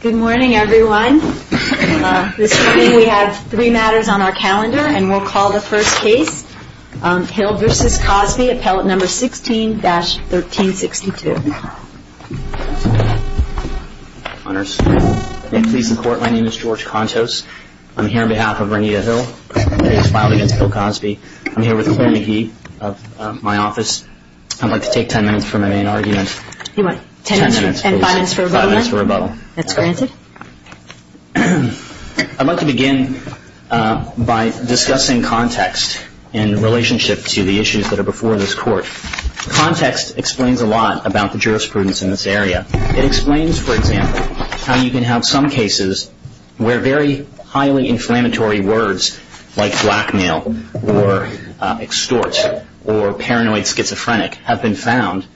Good morning, everyone. This morning we have three matters on our calendar, and we'll call the first case, Hill v. Cosby, appellate number 16-1362. Honors, may it please the Court, my name is George Contos. I'm here on behalf of Renita Hill. The case filed against Hill-Cosby. I'm here with Claire McGee of my office. I'd like to take ten minutes for my main argument. You want ten minutes, and five minutes for rebuttal? Five minutes for rebuttal. That's granted. I'd like to begin by discussing context in relationship to the issues that are before this Court. Context explains a lot about the jurisprudence in this area. It explains, for example, how you can have some cases where very highly inflammatory words like blackmail or extort or paranoid schizophrenic have been found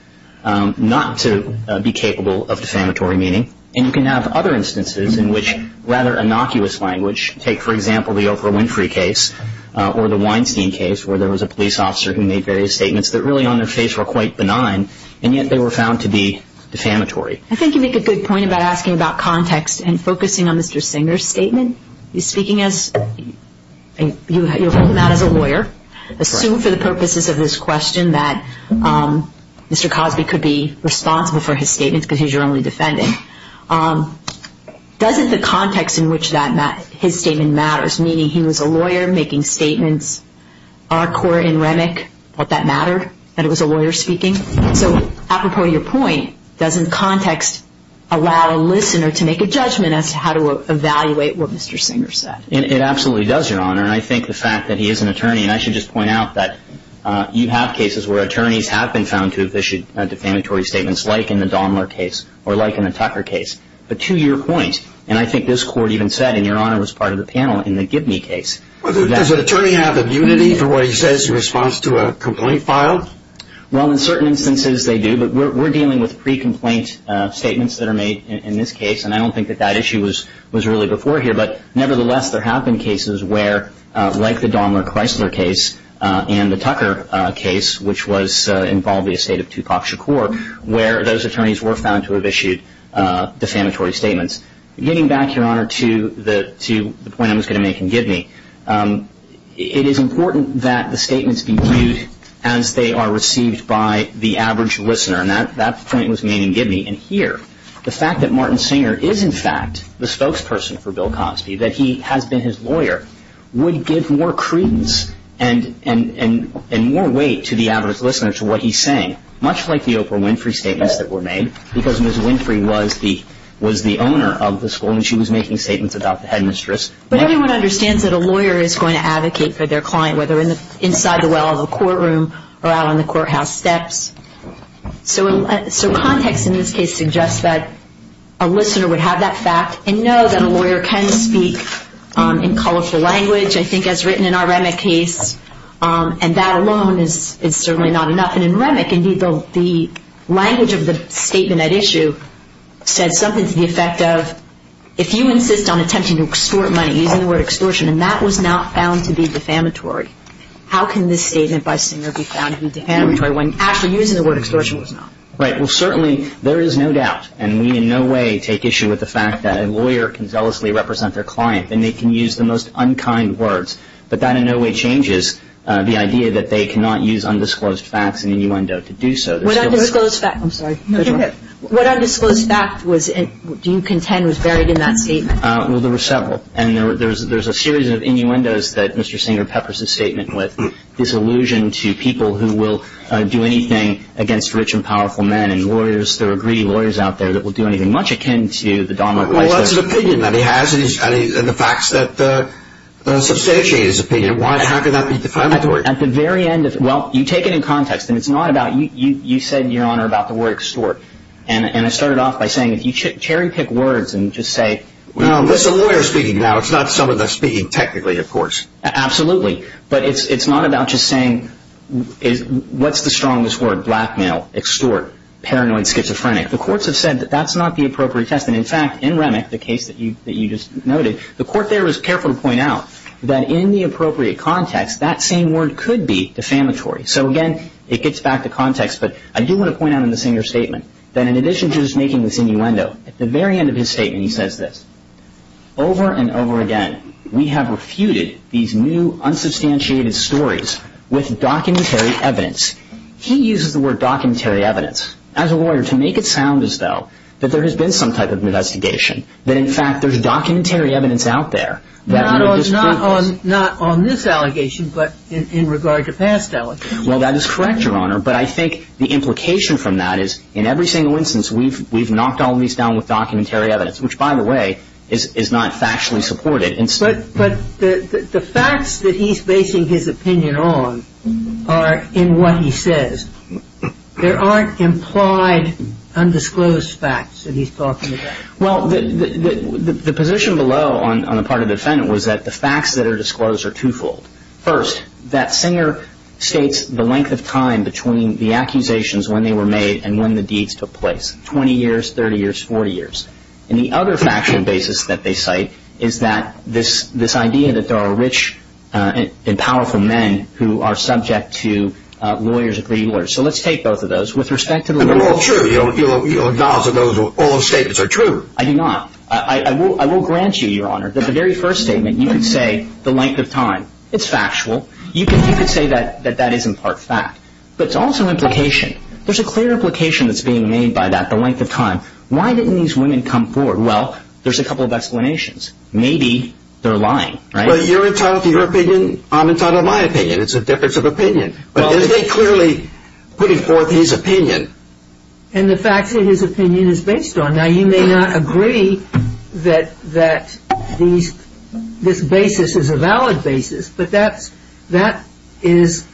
not to be capable of defamatory meaning. And you can have other instances in which rather innocuous language, take for example the Oprah Winfrey case or the Weinstein case, where there was a police officer who made various statements that really on their face were quite benign, and yet they were found to be defamatory. I think you make a good point about asking about context and focusing on Mr. Singer's statement. He's speaking as a lawyer. Assume for the purposes of this question that Mr. Cosby could be responsible for his statements because he's your only defendant. Doesn't the context in which his statement matters, meaning he was a lawyer making statements? Our court in Remic thought that mattered, that it was a lawyer speaking. So apropos to your point, doesn't context allow a listener to make a judgment as to how to evaluate what Mr. Singer said? It absolutely does, Your Honor. And I think the fact that he is an attorney, and I should just point out that you have cases where attorneys have been found to have issued defamatory statements, like in the Daimler case or like in the Tucker case. But to your point, and I think this Court even said, and Your Honor was part of the panel in the Gibney case. Does an attorney have immunity for what he says in response to a complaint filed? Well, in certain instances they do, but we're dealing with pre-complaint statements that are made in this case, and I don't think that that issue was really before here. But nevertheless, there have been cases where, like the Daimler-Chrysler case and the Tucker case, which involved the estate of Tupac Shakur, where those attorneys were found to have issued defamatory statements. Getting back, Your Honor, to the point I was going to make in Gibney, it is important that the statements be viewed as they are received by the average listener, and that point was made in Gibney. And here, the fact that Martin Singer is, in fact, the spokesperson for Bill Cosby, that he has been his lawyer, would give more credence and more weight to the average listener to what he's saying, much like the Oprah Winfrey statements that were made, because Ms. Winfrey was the owner of the school and she was making statements about the headmistress. But everyone understands that a lawyer is going to advocate for their client, whether inside the well of a courtroom or out on the courthouse steps. So context in this case suggests that a listener would have that fact and know that a lawyer can speak in colorful language, I think, as written in our Remick case, and that alone is certainly not enough. And in Remick, indeed, the language of the statement at issue said something to the effect of, if you insist on attempting to extort money using the word extortion, and that was not found to be defamatory, how can this statement by Singer be found to be defamatory when actually using the word extortion was not? Right. Well, certainly there is no doubt, and we in no way take issue with the fact that a lawyer can zealously represent their client and they can use the most unkind words. But that in no way changes the idea that they cannot use undisclosed facts in a new window to do so. I'm sorry. What undisclosed fact do you contend was buried in that statement? Well, there were several. And there's a series of innuendos that Mr. Singer peppers his statement with, this allusion to people who will do anything against rich and powerful men. And lawyers, there are greedy lawyers out there that will do anything much akin to the domino effect. Well, that's an opinion that he has, and the facts that substantiate his opinion. Why can't that be defamatory? Well, you take it in context, and it's not about you. You said, Your Honor, about the word extort. And I started off by saying if you cherry-pick words and just say, Well, this is a lawyer speaking now. It's not someone that's speaking technically, of course. Absolutely. But it's not about just saying what's the strongest word, blackmail, extort, paranoid, schizophrenic. The courts have said that that's not the appropriate test. And, in fact, in Remick, the case that you just noted, the court there was careful to point out that in the appropriate context, that same word could be defamatory. So, again, it gets back to context, but I do want to point out in the Singer statement that in addition to just making this innuendo, at the very end of his statement, he says this. Over and over again, we have refuted these new unsubstantiated stories with documentary evidence. He uses the word documentary evidence as a lawyer to make it sound as though that there has been some type of investigation, that, in fact, there's documentary evidence out there. Not on this allegation, but in regard to past allegations. Well, that is correct, Your Honor. But I think the implication from that is, in every single instance, we've knocked all these down with documentary evidence, which, by the way, is not factually supported. But the facts that he's basing his opinion on are in what he says. There aren't implied undisclosed facts that he's talking about. Well, the position below on the part of the defendant was that the facts that are disclosed are twofold. First, that Singer states the length of time between the accusations, when they were made, and when the deeds took place, 20 years, 30 years, 40 years. And the other factual basis that they cite is that this idea that there are rich and powerful men who are subject to lawyers, agreed lawyers. So let's take both of those. And they're all true. Your knowledge of all those statements are true. I do not. I will grant you, Your Honor, that the very first statement, you can say the length of time. It's factual. You can say that that isn't part fact. But it's also implication. There's a clear implication that's being made by that, the length of time. Why didn't these women come forward? Well, there's a couple of explanations. Maybe they're lying, right? Well, you're entitled to your opinion. I'm entitled to my opinion. It's a difference of opinion. But is they clearly putting forth his opinion? And the facts that his opinion is based on. Now, you may not agree that this basis is a valid basis, but that is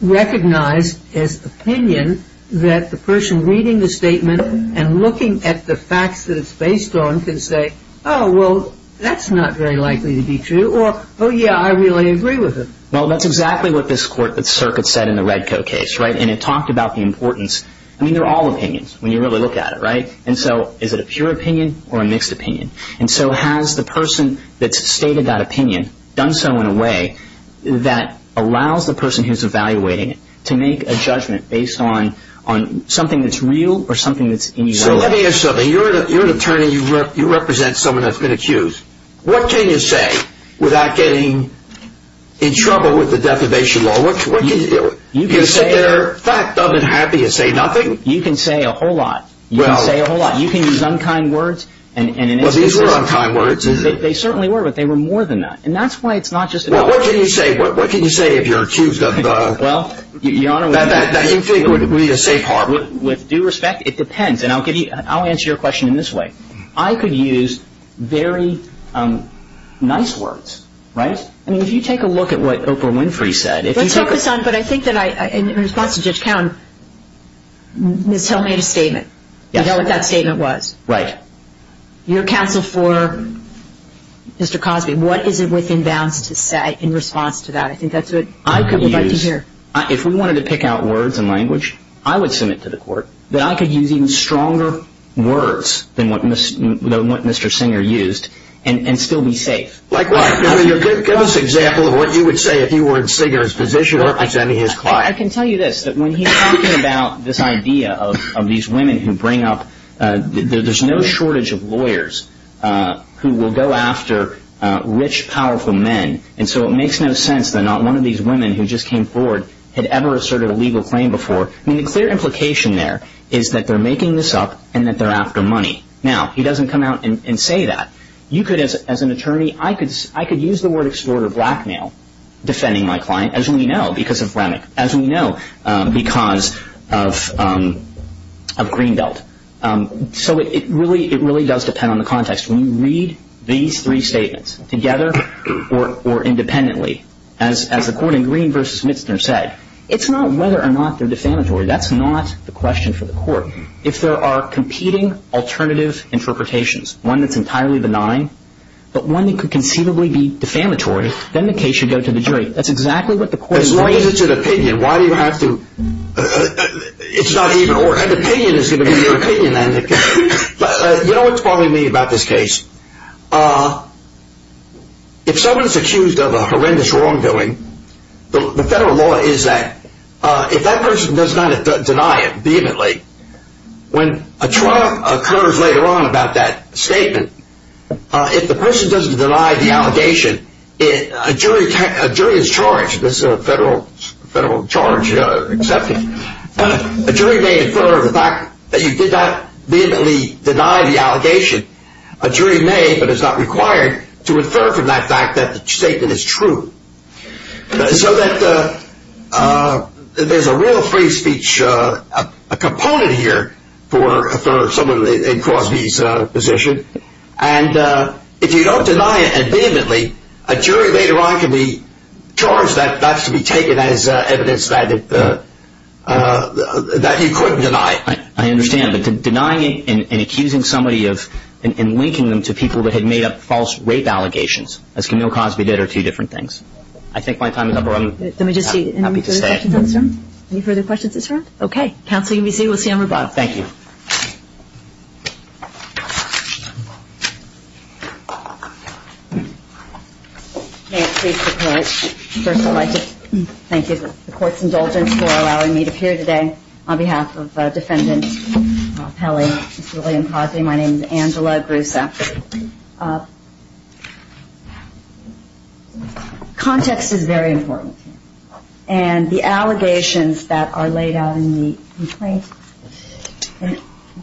recognized as opinion that the person reading the statement and looking at the facts that it's based on can say, oh, well, that's not very likely to be true, or, oh, yeah, I really agree with him. Well, that's exactly what this circuit said in the Redco case, right? And it talked about the importance. I mean, they're all opinions when you really look at it, right? And so is it a pure opinion or a mixed opinion? And so has the person that's stated that opinion done so in a way that allows the person who's evaluating it to make a judgment based on something that's real or something that's in your way? So let me ask something. You're an attorney. You represent someone that's been accused. What can you say without getting in trouble with the defamation law? You can say they're fact of and happy and say nothing? You can say a whole lot. You can say a whole lot. You can use unkind words. Well, these were unkind words, isn't it? They certainly were, but they were more than that. And that's why it's not just an argument. Well, what can you say? What can you say if you're accused of that you think would be a safe harbor? With due respect, it depends. And I'll answer your question in this way. I could use very nice words, right? I mean, if you take a look at what Oprah Winfrey said. Let's focus on, but I think that in response to Judge Cowen, Ms. Hill made a statement. I know what that statement was. Right. Your counsel for Mr. Cosby, what is it within bounds to say in response to that? I think that's what people would like to hear. If we wanted to pick out words and language, I would submit to the court that I could use even stronger words than what Mr. Singer used and still be safe. Like what? Give us an example of what you would say if you were in Singer's position or representing his client. I can tell you this, that when he's talking about this idea of these women who bring up, there's no shortage of lawyers who will go after rich, powerful men. And so it makes no sense that not one of these women who just came forward had ever asserted a legal claim before. I mean, the clear implication there is that they're making this up and that they're after money. Now, he doesn't come out and say that. You could, as an attorney, I could use the word extort or blackmail defending my client, as we know, because of Remick, as we know, because of Greenbelt. So it really does depend on the context. When you read these three statements together or independently, as the court in Green v. Mitzner said, it's not whether or not they're defamatory. That's not the question for the court. If there are competing alternative interpretations, one that's entirely benign, but one that could conceivably be defamatory, then the case should go to the jury. That's exactly what the court is saying. As long as it's an opinion, why do you have to – it's not even – An opinion is going to be your opinion. You know what's bothering me about this case? If someone is accused of a horrendous wrongdoing, the federal law is that if that person does not deny it vehemently, when a trial occurs later on about that statement, if the person doesn't deny the allegation, a jury is charged – this is a federal charge, you've got to accept it – a jury may infer the fact that you did not vehemently deny the allegation. A jury may, but it's not required, to infer from that fact that the statement is true. So that there's a real free speech component here for someone in Crosby's position. And if you don't deny it vehemently, a jury later on can be charged that that's to be taken as evidence that you couldn't deny it. I understand, but denying it and accusing somebody of – and linking them to people that had made up false rape allegations, as Camille Crosby did, are two different things. I think my time is up, or I'm happy to stay. Any further questions at this time? Okay. Counsel, you can be seated. We'll see you on rebuttal. Thank you. May it please the Court, first of all, I'd like to thank the Court's indulgence for allowing me to appear today. On behalf of Defendant Pelley, Ms. Lillian Crosby, my name is Angela Grusa. Context is very important. And the allegations that are laid out in the complaint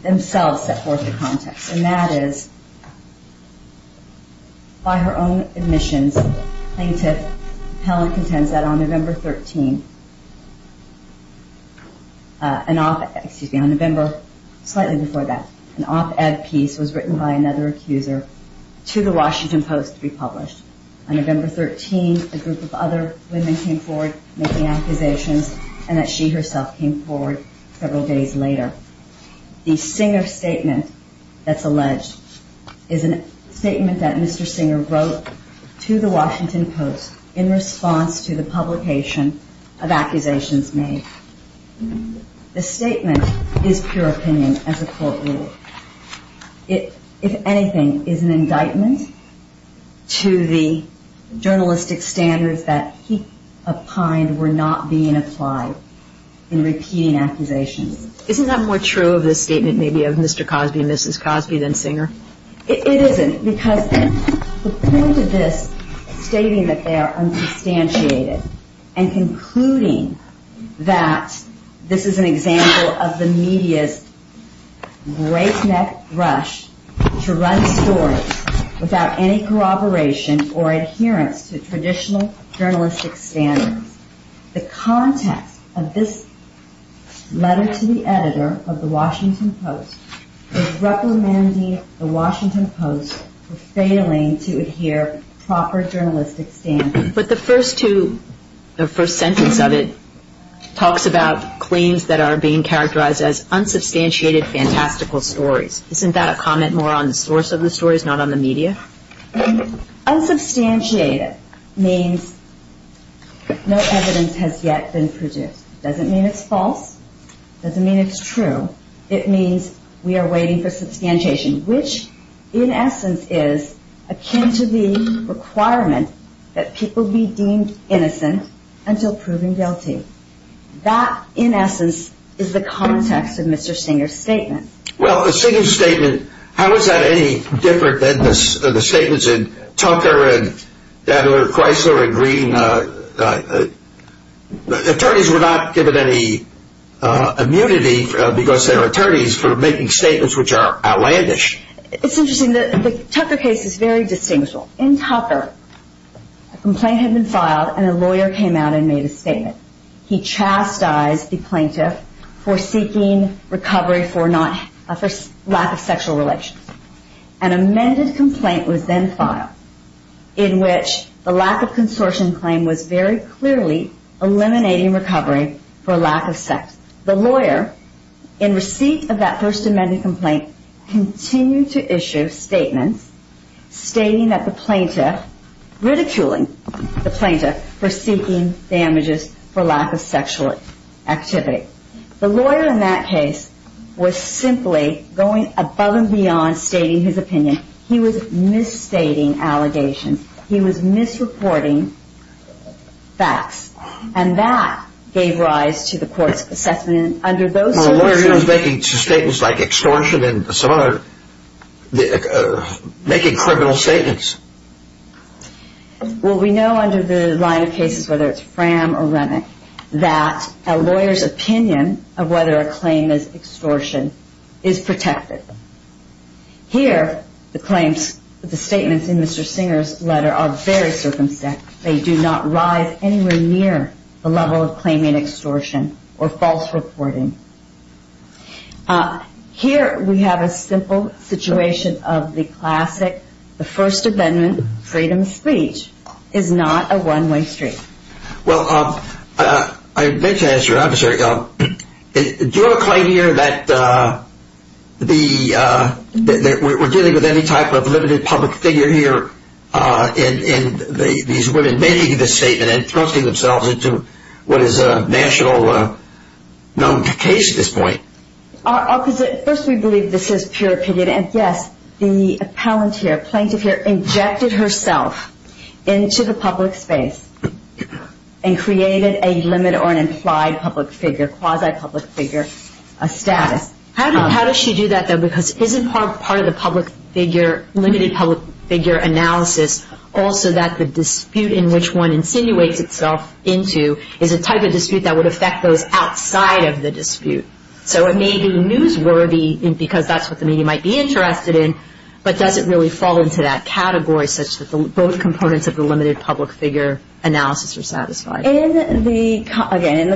themselves set forth the context. And that is, by her own admissions, Plaintiff Pelley contends that on November 13, on November – slightly before that – an op-ed piece was written by another accuser to the Washington Post to be published. On November 13, a group of other women came forward making accusations, and that she herself came forward several days later. The Singer statement that's alleged is a statement that Mr. Singer wrote to the Washington Post in response to the publication of accusations made. The statement is pure opinion as a court rule. It, if anything, is an indictment to the journalistic standards that he opined were not being applied in repeating accusations. Isn't that more true of the statement maybe of Mr. Cosby and Mrs. Cosby than Singer? It isn't, because the point of this stating that they are unsubstantiated and concluding that this is an example of the media's great neck brush to run stories without any corroboration or adherence to traditional journalistic standards. The context of this letter to the editor of the Washington Post is recommending the Washington Post for failing to adhere to proper journalistic standards. But the first sentence of it talks about claims that are being characterized as unsubstantiated fantastical stories. Isn't that a comment more on the source of the stories, not on the media? Unsubstantiated means no evidence has yet been produced. It doesn't mean it's false. It doesn't mean it's true. It means we are waiting for substantiation, which in essence is akin to the requirement that people be deemed innocent until proven guilty. That, in essence, is the context of Mr. Singer's statement. Well, the Singer statement, how is that any different than the statements in Tucker and Chrysler and Green? Attorneys were not given any immunity because they are attorneys for making statements which are outlandish. It's interesting. The Tucker case is very distinguishable. In Tucker, a complaint had been filed and a lawyer came out and made a statement. He chastised the plaintiff for seeking recovery for lack of sexual relations. An amended complaint was then filed in which the lack of consortium claim was very clearly eliminating recovery for lack of sex. The lawyer, in receipt of that first amended complaint, continued to issue statements stating that the plaintiff, ridiculing the plaintiff for seeking damages for lack of sexual activity. The lawyer in that case was simply going above and beyond stating his opinion. He was misstating allegations. He was misreporting facts. And that gave rise to the court's assessment. Well, the lawyer was making statements like extortion and some other, making criminal statements. Well, we know under the line of cases, whether it's Fram or Remick, that a lawyer's opinion of whether a claim is extortion is protected. Here, the claims, the statements in Mr. Singer's letter are very circumspect. They do not rise anywhere near the level of claiming extortion or false reporting. Here, we have a simple situation of the classic. The First Amendment freedom of speech is not a one-way street. Well, I meant to ask you, Officer, do you have a claim here that that we're dealing with any type of limited public figure here in these women making this statement and thrusting themselves into what is a national known case at this point? First, we believe this is pure opinion, and yes, the appellant here, plaintiff here, injected herself into the public space and created a limit or an implied public figure, quasi-public figure status. How does she do that, though? Because isn't part of the public figure, limited public figure analysis, also that the dispute in which one insinuates itself into is a type of dispute that would affect those outside of the dispute? So it may be newsworthy because that's what the media might be interested in, but does it really fall into that category such that both components of the limited public figure analysis are satisfied? In the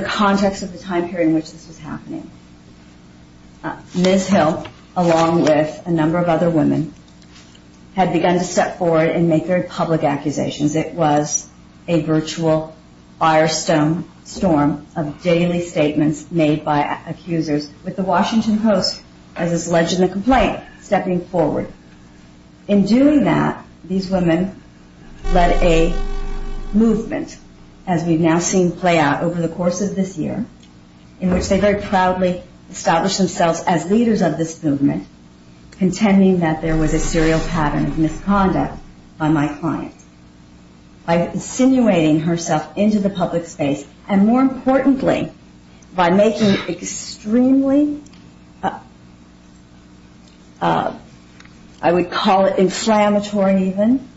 context of the time period in which this was happening, Ms. Hill, along with a number of other women, had begun to step forward and make their public accusations. It was a virtual firestorm of daily statements made by accusers, with the Washington Post, as is alleged in the complaint, stepping forward. In doing that, these women led a movement, as we've now seen play out over the course of this year, in which they very proudly established themselves as leaders of this movement, contending that there was a serial pattern of misconduct by my client. By insinuating herself into the public space, and more importantly, by making extremely, I would call it inflammatory even,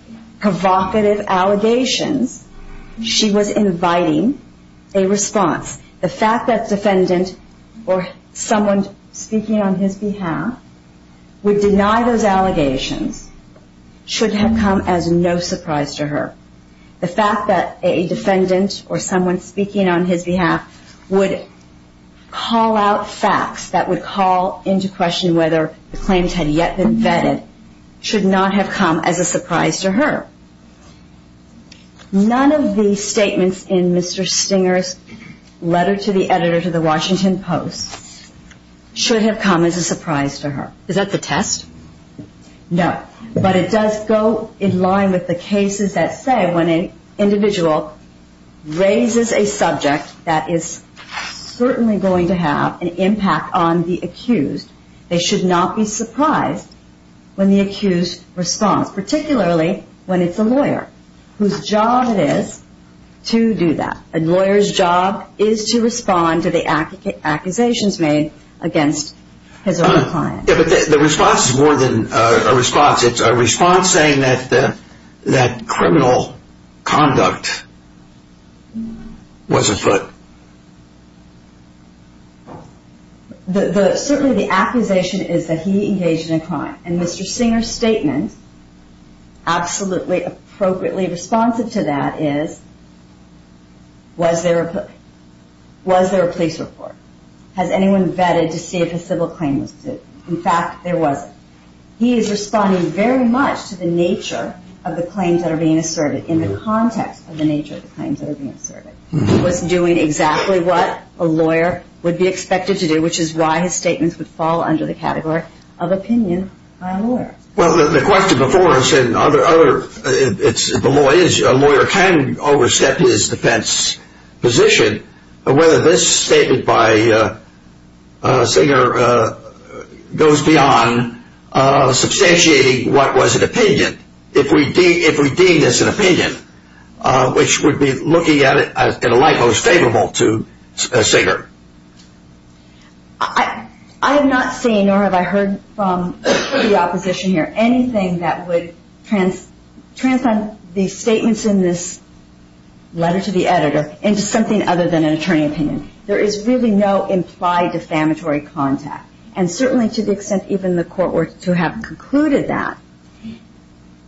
provocative allegations, she was inviting a response. The fact that the defendant, or someone speaking on his behalf, would deny those allegations should have come as no surprise to her. The fact that a defendant, or someone speaking on his behalf, would call out facts that would call into question whether the claims had yet been vetted should not have come as a surprise to her. None of the statements in Mr. Stinger's letter to the editor to the Washington Post, should have come as a surprise to her. Is that the test? No, but it does go in line with the cases that say when an individual raises a subject that is certainly going to have an impact on the accused, they should not be surprised when the accused responds, particularly when it's a lawyer, whose job it is to do that. A lawyer's job is to respond to the accusations made against his own client. Yeah, but the response is more than a response. It's a response saying that criminal conduct was afoot. Certainly the accusation is that he engaged in a crime. And Mr. Stinger's statement, absolutely appropriately responsive to that, is was there a police report? Has anyone vetted to see if a civil claim was sued? In fact, there wasn't. He is responding very much to the nature of the claims that are being asserted in the context of the nature of the claims that are being asserted. He was doing exactly what a lawyer would be expected to do, which is why his statements would fall under the category of opinion by a lawyer. Well, the question before us and other, if a lawyer can overstep his defense position, whether this statement by Stinger goes beyond substantiating what was an opinion, if we deem this an opinion, which would be looking at it in a light most favorable to Stinger. I have not seen or have I heard from the opposition here anything that would transcend the statements in this letter to the editor into something other than an attorney opinion. There is really no implied defamatory contact. And certainly to the extent even the court were to have concluded that,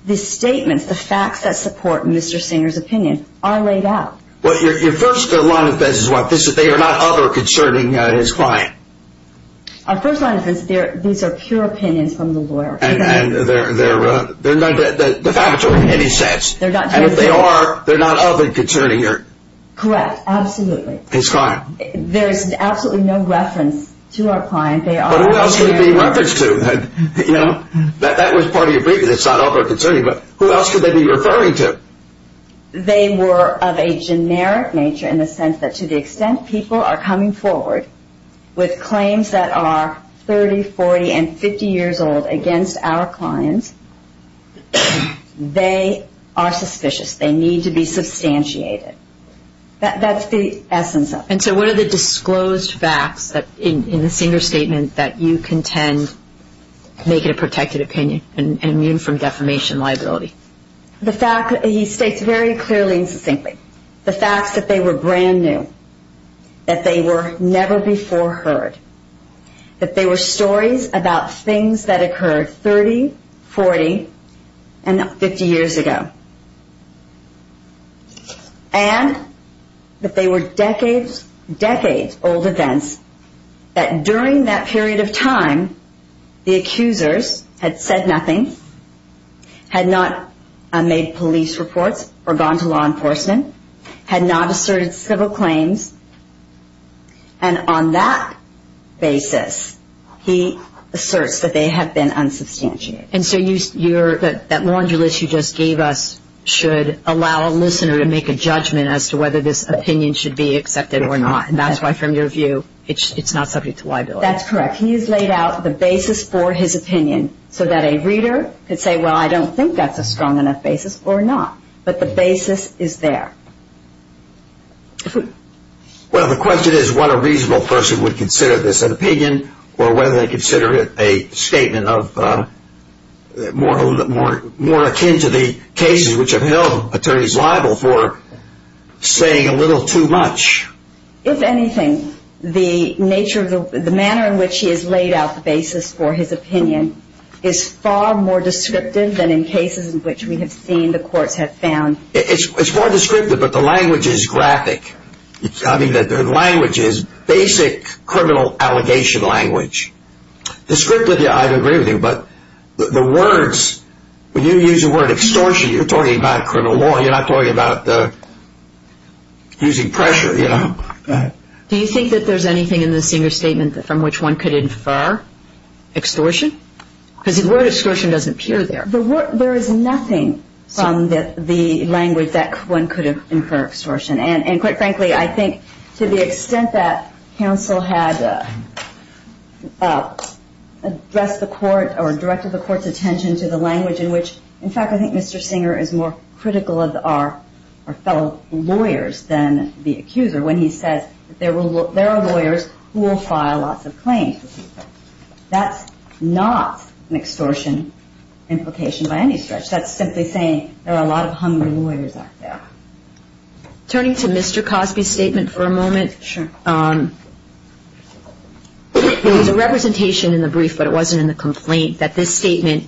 the statements, the facts that support Mr. Stinger's opinion are laid out. Well, your first line of defense is what? They are not other concerning his client? Our first line of defense, these are pure opinions from the lawyer. They're not defamatory. And if they are, they're not other concerning here? Correct, absolutely. His client. There is absolutely no reference to our client. But who else could it be referenced to? That was part of your brief, it's not other concerning, but who else could they be referring to? They were of a generic nature in the sense that to the extent people are coming forward with claims that are 30, 40, and 50 years old against our clients, they are suspicious. They need to be substantiated. That's the essence of it. And so what are the disclosed facts in the Stinger statement that you contend make it a protected opinion and immune from defamation liability? He states very clearly and succinctly the facts that they were brand new, that they were never before heard, that they were stories about things that occurred 30, 40, and 50 years ago, and that they were decades, decades old events that during that period of time, the accusers had said nothing, had not made police reports or gone to law enforcement, had not asserted civil claims, and on that basis he asserts that they have been unsubstantiated. And so that laundry list you just gave us should allow a listener to make a judgment as to whether this opinion should be accepted or not, and that's why from your view it's not subject to liability. That's correct. He has laid out the basis for his opinion so that a reader could say, well, I don't think that's a strong enough basis or not, but the basis is there. Well, the question is what a reasonable person would consider this, an opinion or whether they consider it a statement more akin to the cases which have held attorneys liable for saying a little too much. If anything, the nature, the manner in which he has laid out the basis for his opinion is far more descriptive than in cases in which we have seen the courts have found. It's more descriptive, but the language is graphic. I mean, the language is basic criminal allegation language. Descriptive, I agree with you, but the words, when you use the word extortion, you're talking about criminal law. You're not talking about using pressure, you know. Do you think that there's anything in the Singer statement from which one could infer extortion? Because the word extortion doesn't appear there. There is nothing from the language that one could infer extortion, and quite frankly, I think to the extent that counsel had addressed the court or directed the court's attention to the language in which, in fact, I think Mr. Singer is more critical of our fellow lawyers than the accuser when he says there are lawyers who will file lots of claims. That's not an extortion implication by any stretch. That's simply saying there are a lot of hungry lawyers out there. Turning to Mr. Cosby's statement for a moment. Sure. There was a representation in the brief, but it wasn't in the complaint, that this statement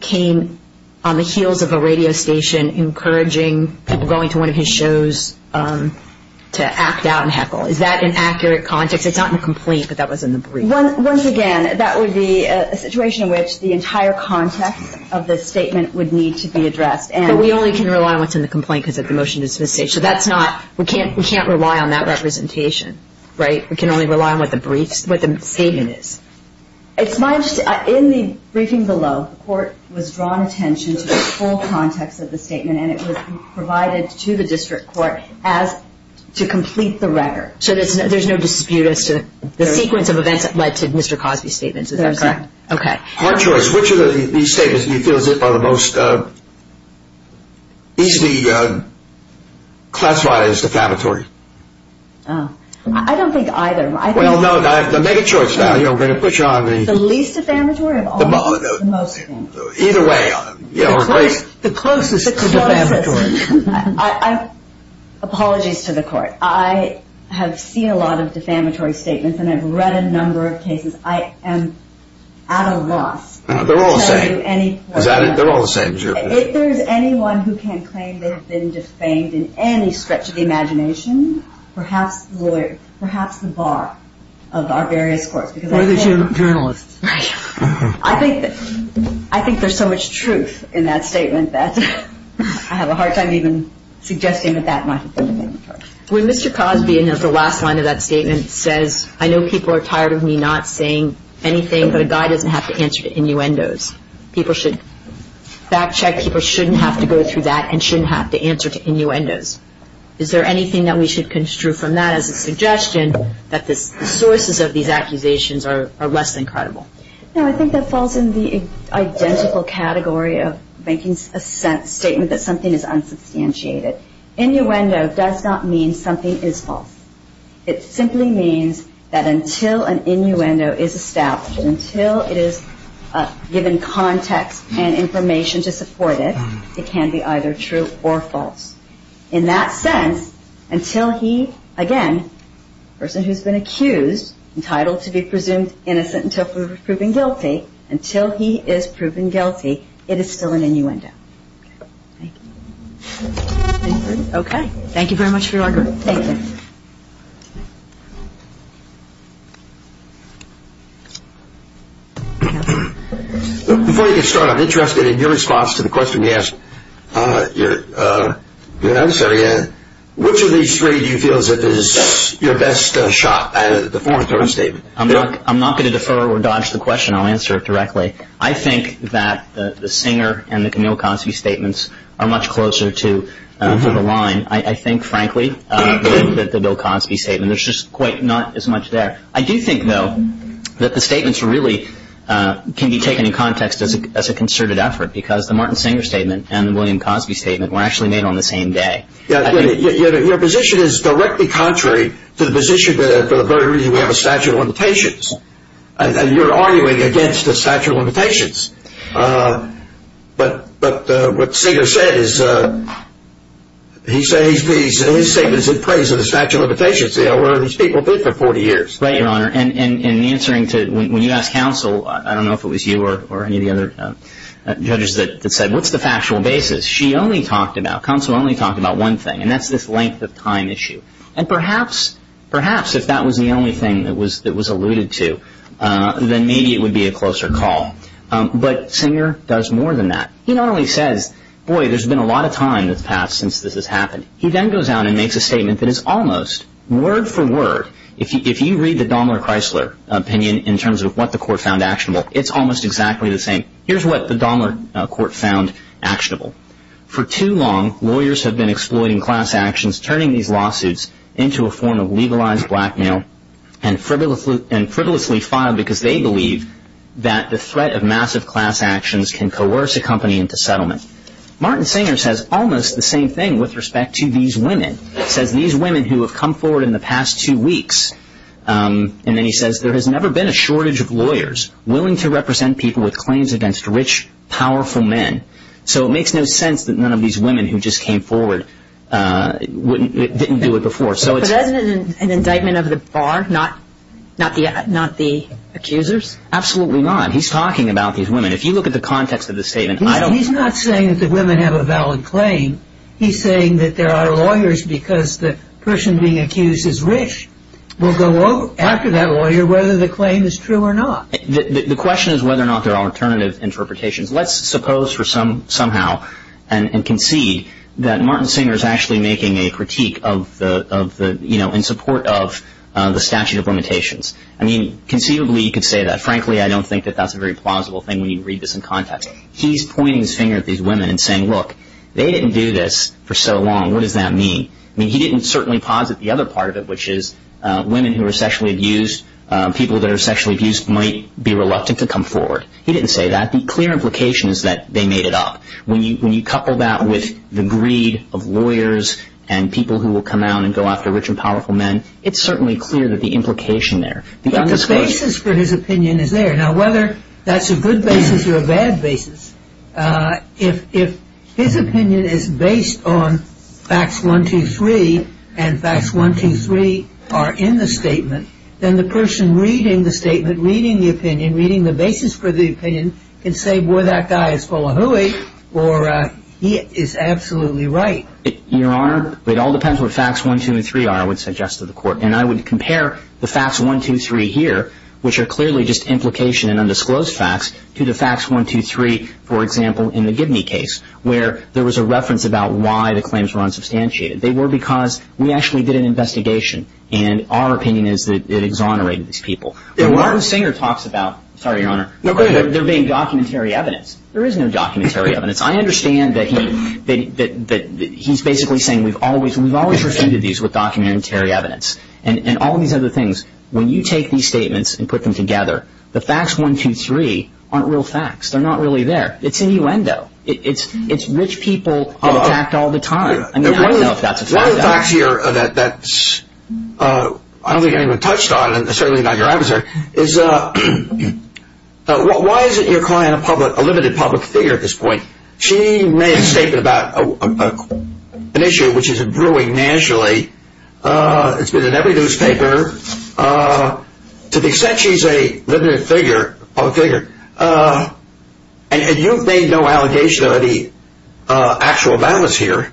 came on the heels of a radio station encouraging people going to one of his shows to act out and heckle. Is that an accurate context? It's not in the complaint, but that was in the brief. Once again, that would be a situation in which the entire context of the statement would need to be addressed. But we only can rely on what's in the complaint because of the motion to dismiss the case. So we can't rely on that representation, right? We can only rely on what the statement is. In the briefing below, the court was drawn attention to the full context of the statement, and it was provided to the district court to complete the record. So there's no dispute as to the sequence of events that led to Mr. Cosby's statements. Is that correct? Hard choice. Which of these statements do you feel are the most easily classified as defamatory? I don't think either. Well, no, the mega-choice value I'm going to put you on. The least defamatory? The closest to defamatory. Apologies to the court. I have seen a lot of defamatory statements, and I've read a number of cases. I am at a loss. They're all the same. Is that it? They're all the same. If there's anyone who can claim they have been defamed in any stretch of the imagination, perhaps the lawyer, perhaps the bar of our various courts. Or the journalists. Right. I think there's so much truth in that statement that I have a hard time even suggesting that that might have been defamatory. When Mr. Cosby, in his last line of that statement, says, I know people are tired of me not saying anything, but a guy doesn't have to answer to innuendos. People should fact-check. People shouldn't have to go through that and shouldn't have to answer to innuendos. Is there anything that we should construe from that as a suggestion that the sources of these accusations are less than credible? No, I think that falls in the identical category of making a statement that something is unsubstantiated. Innuendo does not mean something is false. It simply means that until an innuendo is established, until it is given context and information to support it, it can be either true or false. In that sense, until he, again, a person who's been accused, entitled to be presumed innocent until proven guilty, until he is proven guilty, it is still an innuendo. Thank you. Okay. Thank you very much for your argument. Thank you. Before you get started, I'm interested in your response to the question you asked. Which of these three do you feel is your best shot at a deformatory statement? I'm not going to defer or dodge the question. I'll answer it directly. I think that the Singer and the Camille Cosby statements are much closer to the line. I think, frankly, that the Bill Cosby statement, there's just quite not as much there. I do think, though, that the statements really can be taken in context as a concerted effort because the Martin Singer statement and the William Cosby statement were actually made on the same day. Your position is directly contrary to the position that for the very reason we have a statute of limitations. You're arguing against the statute of limitations. But what Singer said is he said his statements in praise of the statute of limitations, where these people did for 40 years. Right, Your Honor. In answering to when you asked counsel, I don't know if it was you or any of the other judges that said, what's the factual basis? She only talked about, counsel only talked about one thing, and that's this length of time issue. And perhaps if that was the only thing that was alluded to, then maybe it would be a closer call. But Singer does more than that. He not only says, boy, there's been a lot of time that's passed since this has happened. He then goes out and makes a statement that is almost word for word. If you read the Dommler-Chrysler opinion in terms of what the court found actionable, it's almost exactly the same. Here's what the Dommler court found actionable. For too long, lawyers have been exploiting class actions, turning these lawsuits into a form of legalized blackmail and frivolously filed because they believe that the threat of massive class actions can coerce a company into settlement. Martin Singer says almost the same thing with respect to these women. He says these women who have come forward in the past two weeks, and then he says, there has never been a shortage of lawyers willing to represent people with claims against rich, powerful men. So it makes no sense that none of these women who just came forward didn't do it before. But isn't it an indictment of the bar, not the accusers? Absolutely not. He's talking about these women. If you look at the context of the statement, I don't – He's not saying that the women have a valid claim. He's saying that there are lawyers because the person being accused is rich will go after that lawyer whether the claim is true or not. The question is whether or not there are alternative interpretations. Let's suppose for somehow and concede that Martin Singer is actually making a critique of the – in support of the statute of limitations. I mean, conceivably you could say that. Frankly, I don't think that that's a very plausible thing when you read this in context. He's pointing his finger at these women and saying, look, they didn't do this for so long. What does that mean? I mean, he didn't certainly posit the other part of it, which is women who are sexually abused, people that are sexually abused might be reluctant to come forward. He didn't say that. The clear implication is that they made it up. When you couple that with the greed of lawyers and people who will come out and go after rich and powerful men, it's certainly clear that the implication there – But the basis for his opinion is there. Now, whether that's a good basis or a bad basis, if his opinion is based on facts one, two, three, and facts one, two, three are in the statement, then the person reading the statement, reading the opinion, reading the basis for the opinion can say, boy, that guy is full of hooey, or he is absolutely right. Your Honor, it all depends what facts one, two, and three are, I would suggest to the Court. And I would compare the facts one, two, three here, which are clearly just implication and undisclosed facts, to the facts one, two, three, for example, in the Gibney case, where there was a reference about why the claims were unsubstantiated. They were because we actually did an investigation, and our opinion is that it exonerated these people. Martin Singer talks about – sorry, Your Honor – there being documentary evidence. There is no documentary evidence. I understand that he's basically saying we've always refuted these with documentary evidence, and all these other things. When you take these statements and put them together, the facts one, two, three aren't real facts. They're not really there. It's innuendo. It's which people get attacked all the time. I mean, I don't know if that's a fact. One of the facts here that I don't think I even touched on, and certainly not your adversary, is why isn't your client a limited public figure at this point? She made a statement about an issue which is brewing nationally. It's been in every newspaper. To the extent she's a limited public figure, and you've made no allegation of any actual balance here,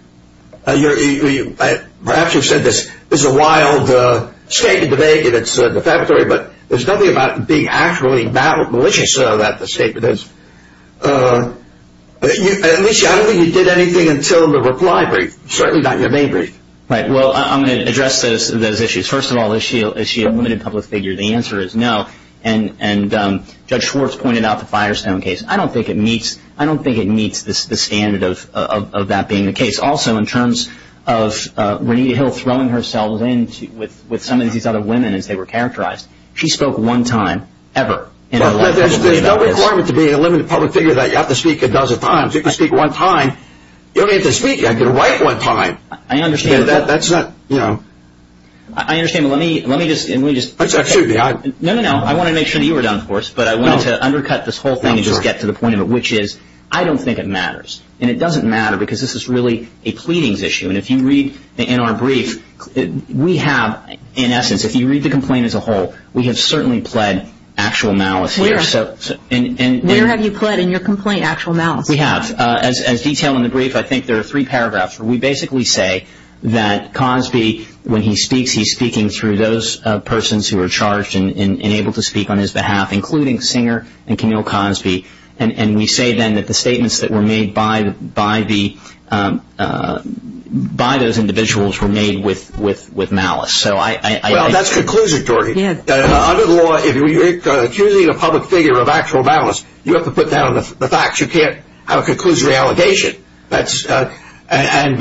perhaps you've said this is a wild statement to make and it's defamatory, but there's nothing about being actually malicious about the statement. Alicia, I don't think you did anything until the reply brief, certainly not your main brief. Right. Well, I'm going to address those issues. First of all, is she a limited public figure? The answer is no. And Judge Schwartz pointed out the Firestone case. I don't think it meets the standard of that being the case. Also, in terms of Renita Hill throwing herself in with some of these other women as they were characterized, she spoke one time, ever. There's no requirement to be a limited public figure that you have to speak a dozen times. If you can speak one time, you don't even have to speak. You can write one time. I understand. That's not, you know. I understand. Let me just say. No, no, no. I want to make sure that you were done, of course, but I wanted to undercut this whole thing and just get to the point of it, which is I don't think it matters. And it doesn't matter because this is really a pleadings issue. And if you read in our brief, we have, in essence, if you read the complaint as a whole, we have certainly pled actual malice here. Where have you pled in your complaint actual malice? We have. As detailed in the brief, I think there are three paragraphs. We basically say that Cosby, when he speaks, he's speaking through those persons who are charged and able to speak on his behalf, including Singer and Camille Cosby. And we say then that the statements that were made by those individuals were made with malice. Well, that's conclusive, Jordy. Under the law, if you're accusing a public figure of actual malice, you have to put down the facts. You can't have a conclusive allegation. And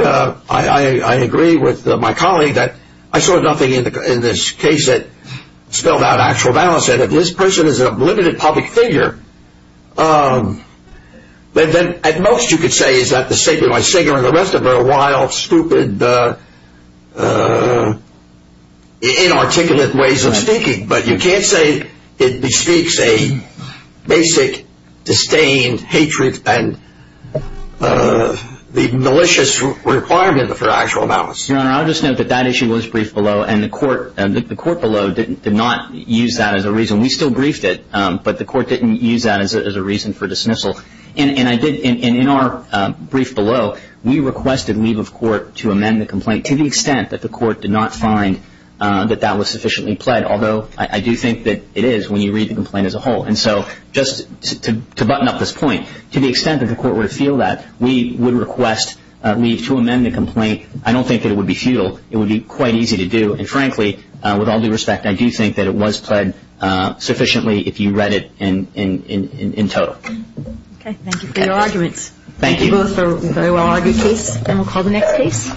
I agree with my colleague that I saw nothing in this case that spelled out actual malice. And if this person is a limited public figure, then at most you could say is that the statement by Singer and the rest of her are wild, stupid, inarticulate ways of speaking. But you can't say it bespeaks a basic, disdained hatred and the malicious requirement for actual malice. Your Honor, I'll just note that that issue was briefed below, and the court below did not use that as a reason. We still briefed it, but the court didn't use that as a reason for dismissal. And in our brief below, we requested leave of court to amend the complaint to the extent that the court did not find that that was sufficiently pled, although I do think that it is when you read the complaint as a whole. And so just to button up this point, to the extent that the court would feel that, we would request leave to amend the complaint. I don't think that it would be futile. It would be quite easy to do. And frankly, with all due respect, I do think that it was pled sufficiently if you read it in total. Okay. Thank you for your arguments. Thank you both for a very well-argued case. And we'll call the next case.